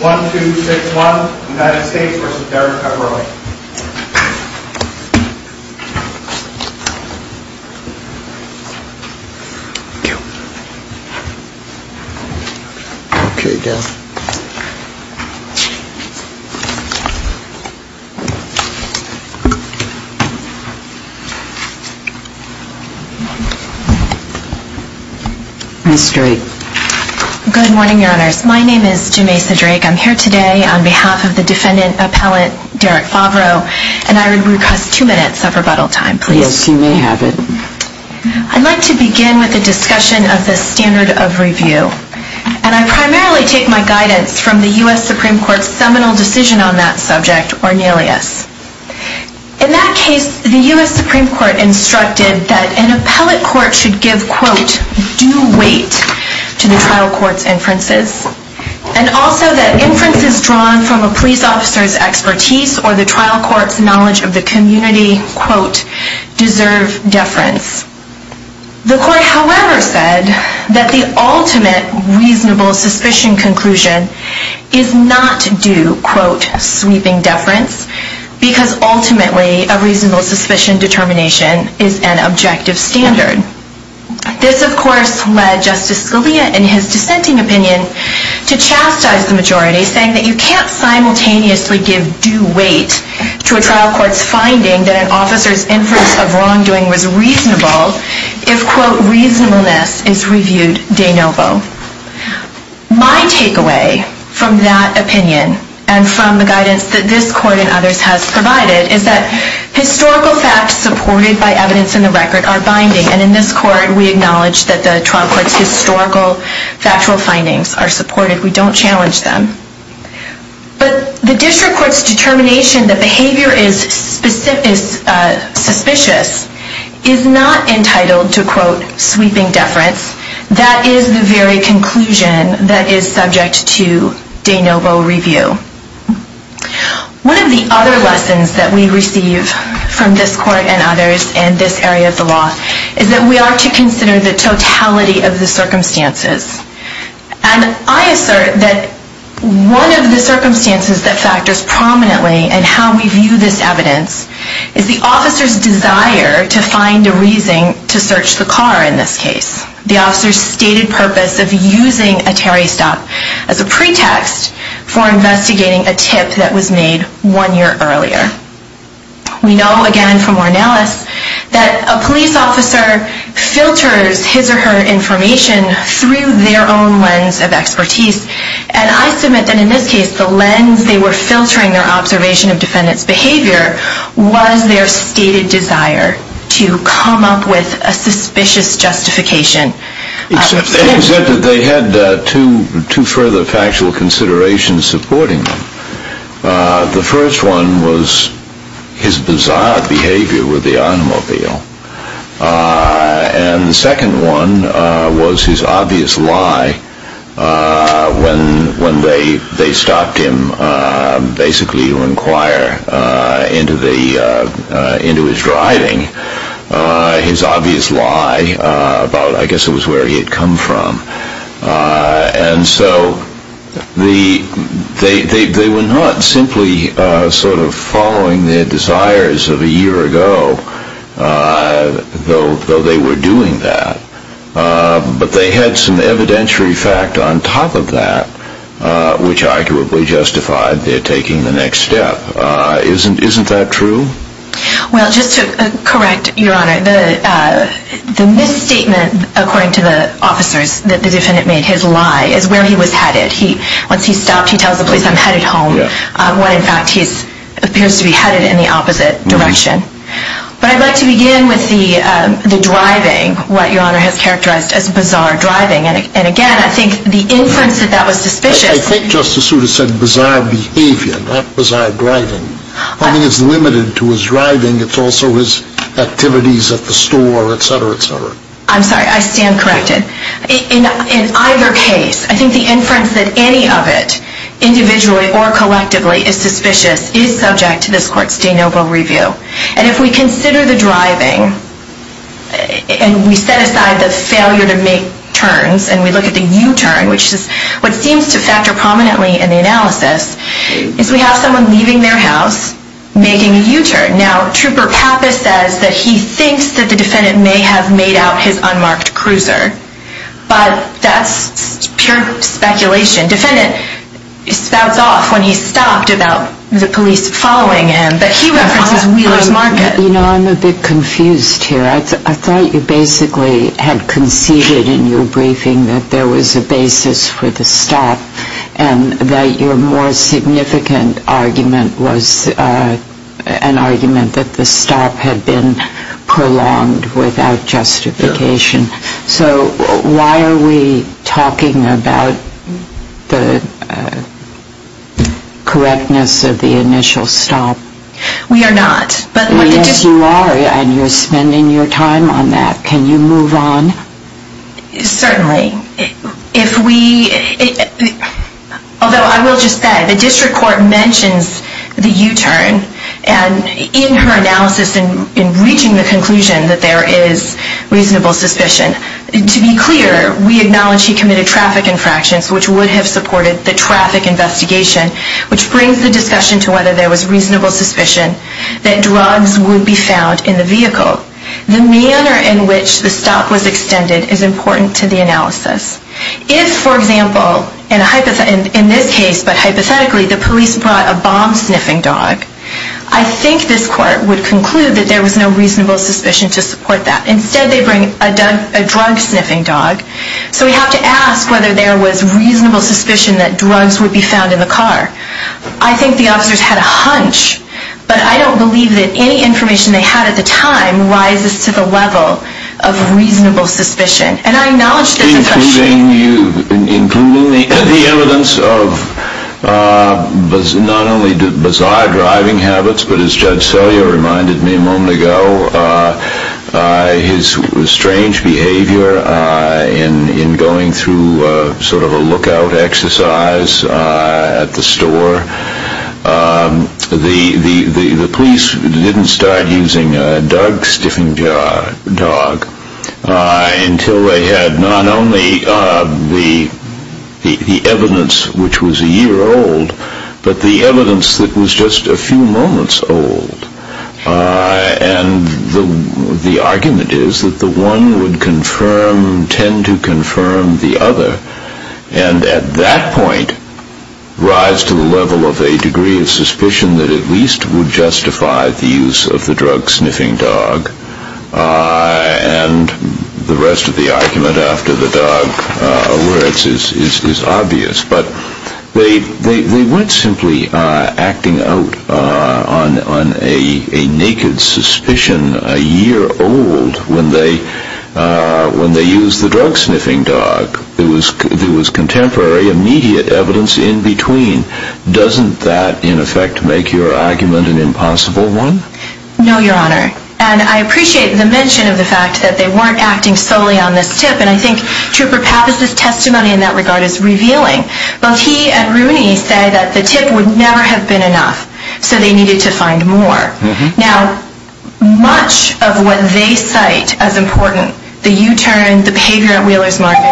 1, 2, 6, 1. United States v. Favreau Good morning, your honors. My name is Jemaisa Drake. I'm here today on behalf of the defendant appellate, Derek Favreau, and I would request two minutes of rebuttal time, please. Yes, you may have it. I'd like to begin with a discussion of the standard of review, and I primarily take my guidance from the U.S. Supreme Court's seminal decision on that subject, Ornelas. In that case, the U.S. Supreme Court instructed that an appellate court should give, quote, due weight to the trial court's inferences, and also that inferences drawn from a police officer's expertise or the trial court's knowledge of the community, quote, deserve deference. The court, however, said that the ultimate reasonable suspicion conclusion is not due, quote, sweeping deference, because ultimately a reasonable suspicion determination is an objective standard. This, of course, led Justice Scalia in his dissenting opinion to chastise the majority, saying that you can't simultaneously give due weight to a trial court's finding that an officer's inference of wrongdoing was reasonable if, quote, reasonableness is reviewed de novo. My takeaway from that opinion and from the guidance that this court and others has provided is that historical facts supported by evidence in the record are binding, and in this court we acknowledge that the trial court's historical factual findings are supported. We don't challenge them. But the district court's determination that behavior is suspicious is not entitled to, quote, sweeping deference. That is the very conclusion that is subject to de novo review. One of the other lessons that we receive from this court and others in this area of the case is that we don't consider the totality of the circumstances. And I assert that one of the circumstances that factors prominently in how we view this evidence is the officer's desire to find a reason to search the car in this case, the officer's stated purpose of using a Terry stop as a pretext for investigating a tip that was made one year earlier. We know, again, from Mornellis, that a police officer filters his or her information through their own lens of expertise. And I submit that in this case, the lens they were filtering their observation of defendant's behavior was their stated desire to come up with a suspicious justification. Except they had two further factual considerations supporting them. The first one was his bizarre behavior with the automobile. And the second one was his obvious lie when they stopped him basically to inquire into his driving, his obvious lie about, I guess, it was where he had come from. And so they were not simply sort of following their desires of a year ago, though they were doing that. But they had some evidentiary fact on top of that, which arguably justified their taking the next step. Isn't that true? Well, just to correct, Your Honor, the misstatement, according to the officers, that the defendant made his lie is where he was headed. Once he stopped, he tells the police, I'm headed home. When, in fact, he appears to be headed in the opposite direction. But I'd like to begin with the driving, what Your Honor has characterized as bizarre driving. And again, I think the inference that that was suspicious I think Justice Souter said bizarre behavior, not bizarre driving. I think it's limited to his driving. It's also his activities at the store, et cetera, et cetera. I'm sorry. I stand corrected. In either case, I think the inference that any of it, individually or collectively, is suspicious is subject to this Court's de novo review. And if we consider the driving, and we set aside the failure to make turns, and we look at the factor prominently in the analysis, is we have someone leaving their house, making a U-turn. Now, Trooper Pappas says that he thinks that the defendant may have made out his unmarked cruiser. But that's pure speculation. The defendant spouts off when he stopped about the police following him, but he references Wheeler's Market. You know, I'm a bit confused here. I thought you basically had conceded in your briefing that there was a basis for the stop, and that your more significant argument was an argument that the stop had been prolonged without justification. So why are we talking about the correctness of the initial stop? We are not. Yes, you are, and you're spending your time on that. Can you move on? Certainly. Although I will just add, the District Court mentions the U-turn, and in her analysis in reaching the conclusion that there is reasonable suspicion, to be clear, we acknowledge he committed traffic infractions, which would have supported the traffic investigation, which brings the discussion to whether there was reasonable suspicion that drugs would be found in the vehicle. The manner in which the stop was extended is important to the analysis. If, for example, in this case, but hypothetically, the police brought a bomb-sniffing dog, I think this Court would conclude that there was no reasonable suspicion to support that. Instead, they bring a drug-sniffing dog. So we have to ask whether there was reasonable suspicion that drugs would be found in the car. I think the officers had a hunch, but I don't believe that any information they had at the time rises to the level of reasonable suspicion. And I acknowledge there's a question... Including the evidence of not only bizarre driving habits, but as Judge Selya reminded me a moment ago, his strange behavior in going through sort of a lookout exercise at the police didn't start using a dog-sniffing dog until they had not only the evidence which was a year old, but the evidence that was just a few moments old. And the argument is that the one would confirm, tend to confirm the other, and at that point rise to the level of a degree of suspicion that at least would justify the use of the drug-sniffing dog. And the rest of the argument after the dog is obvious. But they weren't simply acting out on a naked suspicion a year old when they used the drug-sniffing dog. There was contemporary immediate evidence in between. Doesn't that in effect make your argument an impossible one? No, Your Honor. And I appreciate the mention of the fact that they weren't acting solely on this tip. And I think Trooper Pappas' testimony in that regard is revealing. Both he and Rooney say that the tip would never have been enough, so they needed to find more. Now, much of what they cite as important, the U-turn, the behavior at Wheeler's Market,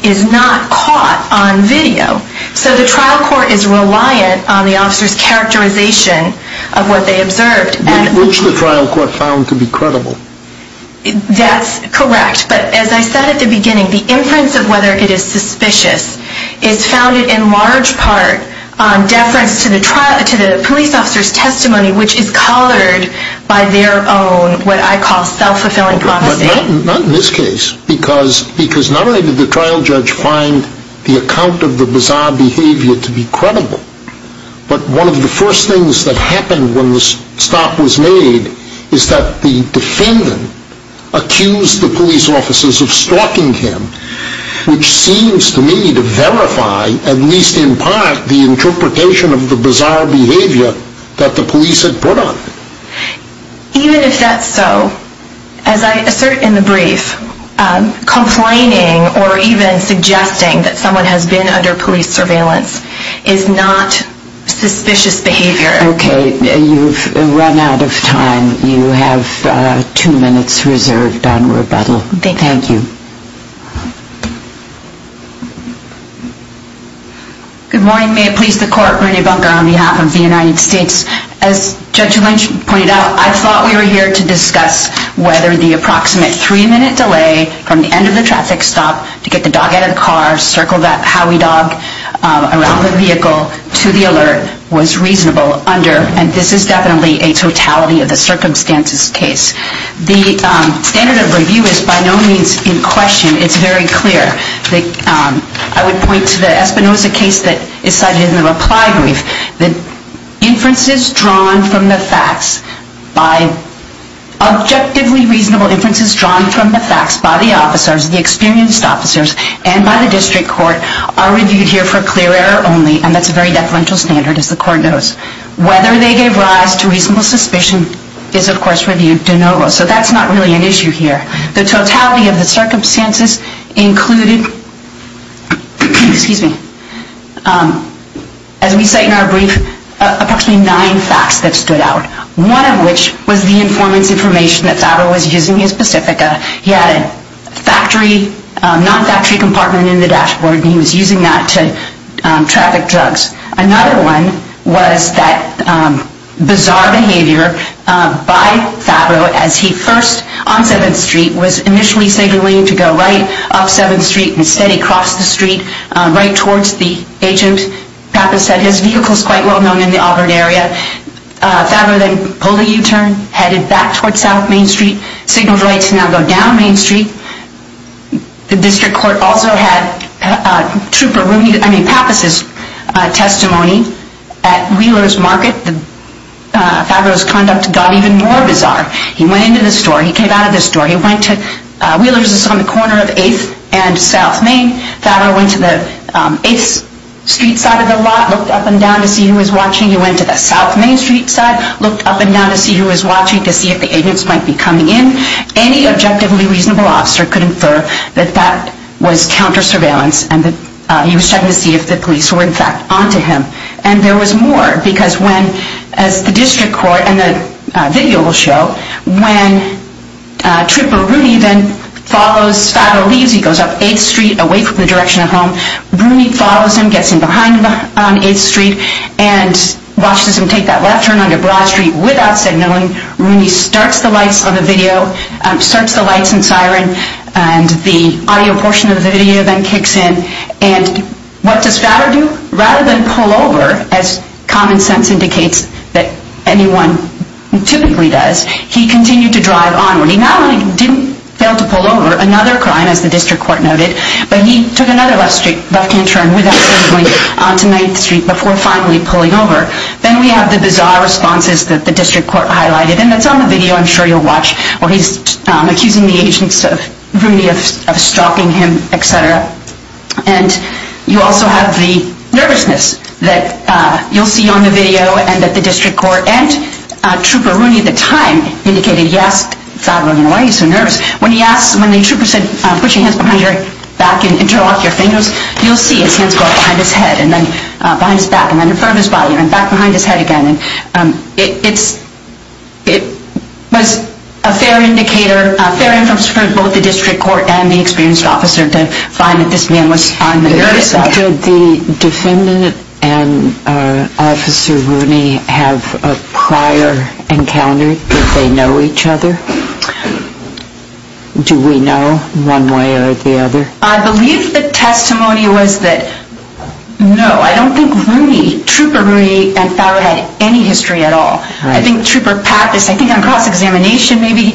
is not caught on video. So the trial court is reliant on the officer's characterization of what they observed. Which the trial court found to be credible. That's correct. But as I said at the beginning, the inference of whether it is suspicious is founded in large part on deference to the police officer's testimony, which is colored by their own, what I call, self-fulfilling prophecy. Not in this case, because not only did the trial judge find the account of the bizarre behavior to be credible, but one of the first things that happened when the stop was made is that the defendant accused the police officers of stalking him, which seems to me to verify, at least in part, the interpretation of the bizarre behavior that the police had put on him. Even if that's so, as I assert in the brief, complaining or even suggesting that someone has been under police surveillance is not suspicious behavior. Okay. You've run out of time. You have two minutes reserved on rebuttal. Thank you. Good morning. May it please the court. Renee Bunker on behalf of the United States. As Judge Lynch pointed out, I thought we were here to discuss whether the approximate three-minute delay from the end of the traffic stop to get the dog out of the car, circle that Howie dog around the vehicle to the alert was reasonable under, and this is definitely a totality of the circumstances case. The standard of review is by no means in question. It's very clear. I would point to the Espinoza case that is cited in the reply brief. The inferences drawn from the facts by objectively reasonable inferences drawn from the facts by the officers, the experienced officers, and by the district court, are reviewed here for clear error only, and that's a very deferential standard as the court knows. Whether they gave rise to reasonable suspicion is, of course, reviewed de novo. So that's not really an issue here. The totality of the circumstances included, excuse me, the totality of the circumstances included, as we cite in our brief, approximately nine facts that stood out, one of which was the informant's information that Favreau was using his Pacifica. He had a factory, non-factory compartment in the dashboard, and he was using that to traffic drugs. Another one was that bizarre behavior by Favreau as he first, on 7th Street, was initially signaling to go right, up 7th Street. Instead, he crossed the street right towards the agent. Pappas said his vehicle is quite well known in the Auburn area. Favreau then pulled a U-turn, headed back towards South Main Street, signaled right to now go down Main Street. The district court also had Trooper Rooney, I mean Pappas' testimony at Wheeler's Market. Favreau's conduct got even more bizarre. He went into the store. He came out of the store. He went to, Wheeler's is on the corner of 8th and South Main. Favreau went to the 8th Street side of the lot, looked up and down to see who was watching. He went to the South Main Street side, looked up and down to see who was watching to see if the agents might be coming in. Any objectively reasonable officer could infer that that was counter-surveillance and that he was checking to see if the police were, in fact, on to him. And there was more because when, as the district court and the video will show, when Trooper Rooney then follows Favreau, leaves, he goes up 8th Street away from the direction of home. Rooney follows him, gets in behind him on 8th Street and watches him take that left turn onto Broad Street without signaling. Rooney starts the lights on the video, starts the lights and siren and the audio portion of the video then kicks in. And what does he do? He pulls over, as common sense indicates that anyone typically does, he continued to drive onward. He not only didn't fail to pull over, another crime as the district court noted, but he took another left turn without signaling onto 9th Street before finally pulling over. Then we have the bizarre responses that the district court highlighted and that's on the video I'm sure you'll watch where he's accusing the agents of Rooney of stalking him, etc. And you also have the nervousness that you'll see on the video and that the district court and Trooper Rooney at the time indicated he asked Favreau, why are you so nervous? When he asked, when the trooper said, put your hands behind your back and interlock your fingers, you'll see his hands go up behind his head and then behind his back and then in front of his body and then back behind his head again. It was a fair indicator, a fairly experienced officer to find that this man was on the nervous side. Did the defendant and Officer Rooney have a prior encounter? Did they know each other? Do we know one way or the other? I believe the testimony was that, no, I don't think Rooney, Trooper Rooney and Favreau had any history at all. I think Trooper Pappas, I think on cross-examination maybe,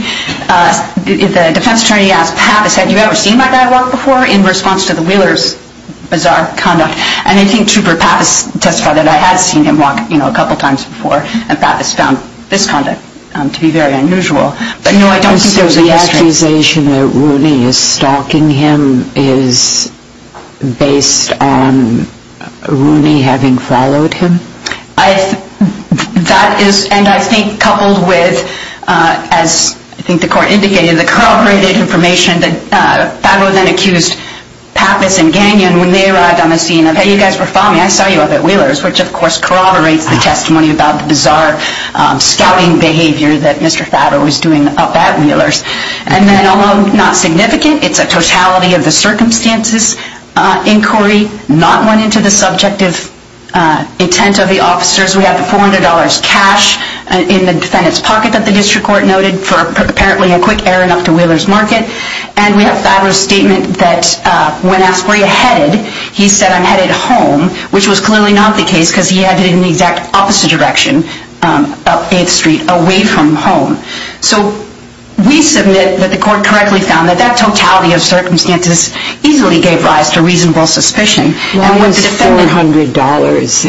the defense attorney asked Pappas, have you ever seen my guy walk before in response to the Wheeler's bizarre conduct? And I think Trooper Pappas testified that I had seen him walk a couple times before and Pappas found this conduct to be very unusual. So the accusation that Rooney is stalking him is based on Rooney having followed him? That is, and I think coupled with, as I think the court indicated, the corroborated information that Favreau then accused Pappas and Gagnon when they arrived on the scene of, hey, you guys were following me, I saw you up at Wheeler's, which of course corroborates the testimony about the bizarre scouting behavior that Mr. Favreau was doing up at Wheeler's. And then, although not significant, it's a totality of the circumstances inquiry, not intent of the officers. We have the $400 cash in the defendant's pocket that the district court noted for apparently a quick errand up to Wheeler's Market, and we have Favreau's statement that when asked where you headed, he said, I'm headed home, which was clearly not the case because he headed in the exact opposite direction, up 8th Street, away from home. So we submit that the court correctly found that that totality of circumstances easily gave rise to reasonable suspicion. Why was $400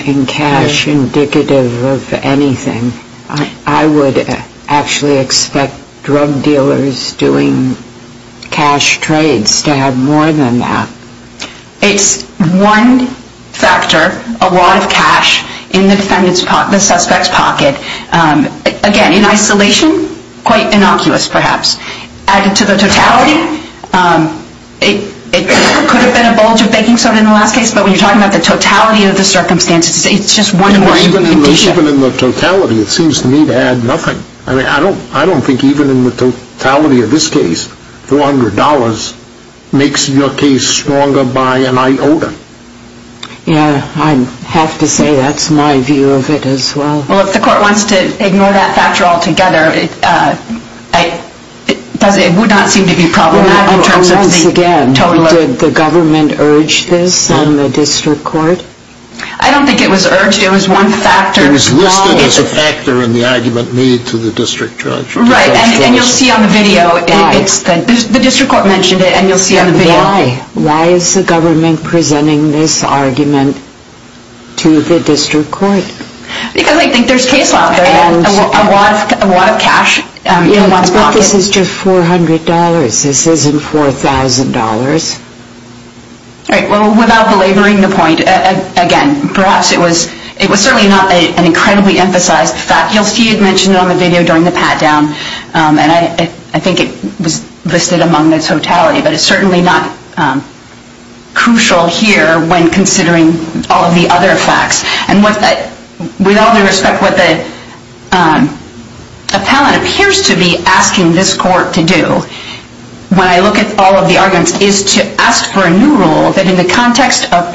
in cash indicative of anything? I would actually expect drug dealers doing cash trades to have more than that. It's one factor, a lot of cash in the defendant's pocket. Again, in isolation, quite innocuous perhaps. Added to the totality, it could have been a bulge of banking soda in the last case, but when you're talking about the totality of the circumstances, it's just one more condition. Even in the totality, it seems to me to add nothing. I don't think even in the totality of this case, $400 makes your case stronger by an iota. Yeah, I have to say that's my view of it as well. Well, if the court wants to ignore that factor altogether, it would not seem to be problematic in terms of the totality. And once again, did the government urge this on the district court? I don't think it was urged. It was one factor. It was listed as a factor in the argument made to the district judge. Right, and you'll see on the video. The district court mentioned it, and you'll see on the video. Why? Why is the government presenting this argument to the district court? Because they think there's case law out there. A lot of cash in one's pocket. Yeah, but this is just $400. This isn't $4,000. Right, well, without belaboring the point, again, perhaps it was certainly not an incredibly emphasized fact. You'll see it mentioned on the video during the pat-down, and I think it was listed among the totality, but it's certainly not crucial here when considering all of the other facts. And with all due respect, what the appellant appears to be asking this court to do, when I look at all of the arguments, is to ask for a new rule that in the context of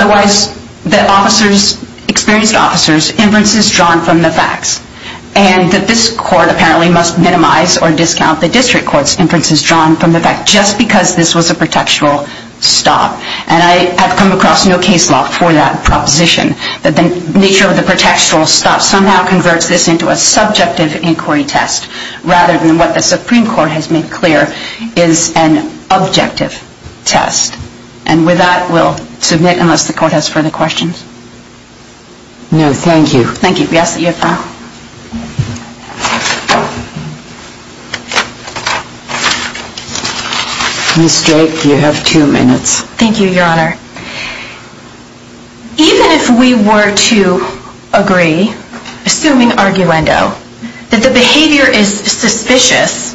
Otherwise, that officers, experienced officers, inferences drawn from the facts. And that this court apparently must minimize or discount the district court's inferences drawn from the facts, just because this was a protectural stop. And I have come across no case law for that proposition. That the nature of the protectural stop somehow converts this into a subjective inquiry test, rather than what the Supreme Court has made clear is an objective test. And with that, we'll submit unless the court has further questions. No, thank you. Thank you. We ask that you affirm. Ms. Drake, you have two minutes. Thank you, Your Honor. Even if we were to agree, assuming arguendo, that the behavior is suspicious,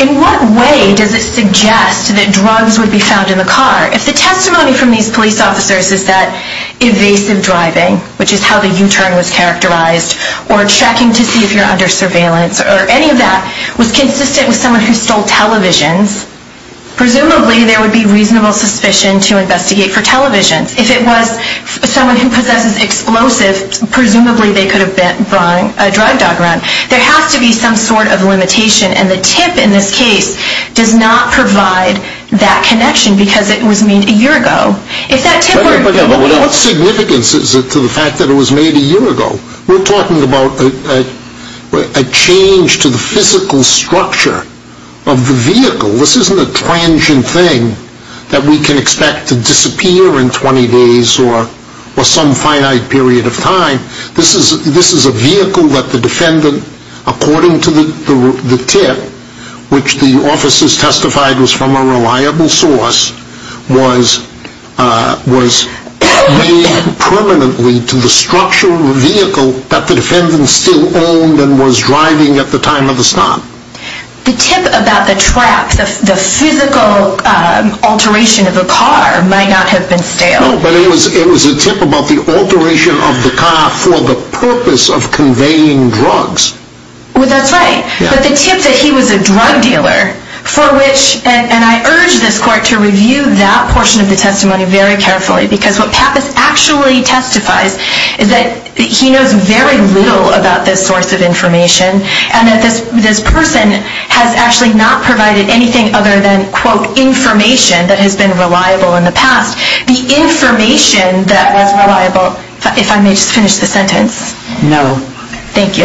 in what way does it suggest that drugs would be found in the car? If the testimony from these police officers is that evasive driving, which is how the U-turn was characterized, or checking to see if you're under surveillance, or any of that, was consistent with someone who stole televisions, presumably there would be reasonable suspicion to investigate for televisions. If it was someone who possesses explosives, presumably they could have brought a drug dog around. There has to be some sort of limitation. And the tip in this case does not provide that connection, because it was made a year ago. What significance is it to the fact that it was made a year ago? We're talking about a change to the physical structure of the vehicle. This isn't a transient thing that we can expect to disappear in 20 days or some finite period of time. This is a vehicle that the defendant, according to the tip, which the officers testified was from a reliable source, was made permanently to the structure of the vehicle that the defendant still owned and was driving at the time of the stop. The tip about the trap, the physical alteration of the car, might not have been stale. No, but it was a tip about the alteration of the car for the purpose of conveying drugs. Well, that's right. But the tip that he was a drug dealer, for which, and I urge this court to review that portion of the testimony very carefully, because what Pappas actually testifies is that he knows very little about this source of information, and that this person has actually not provided anything other than, quote, the information that has been reliable in the past. The information that was reliable, if I may just finish the sentence. Thank you. Thank you.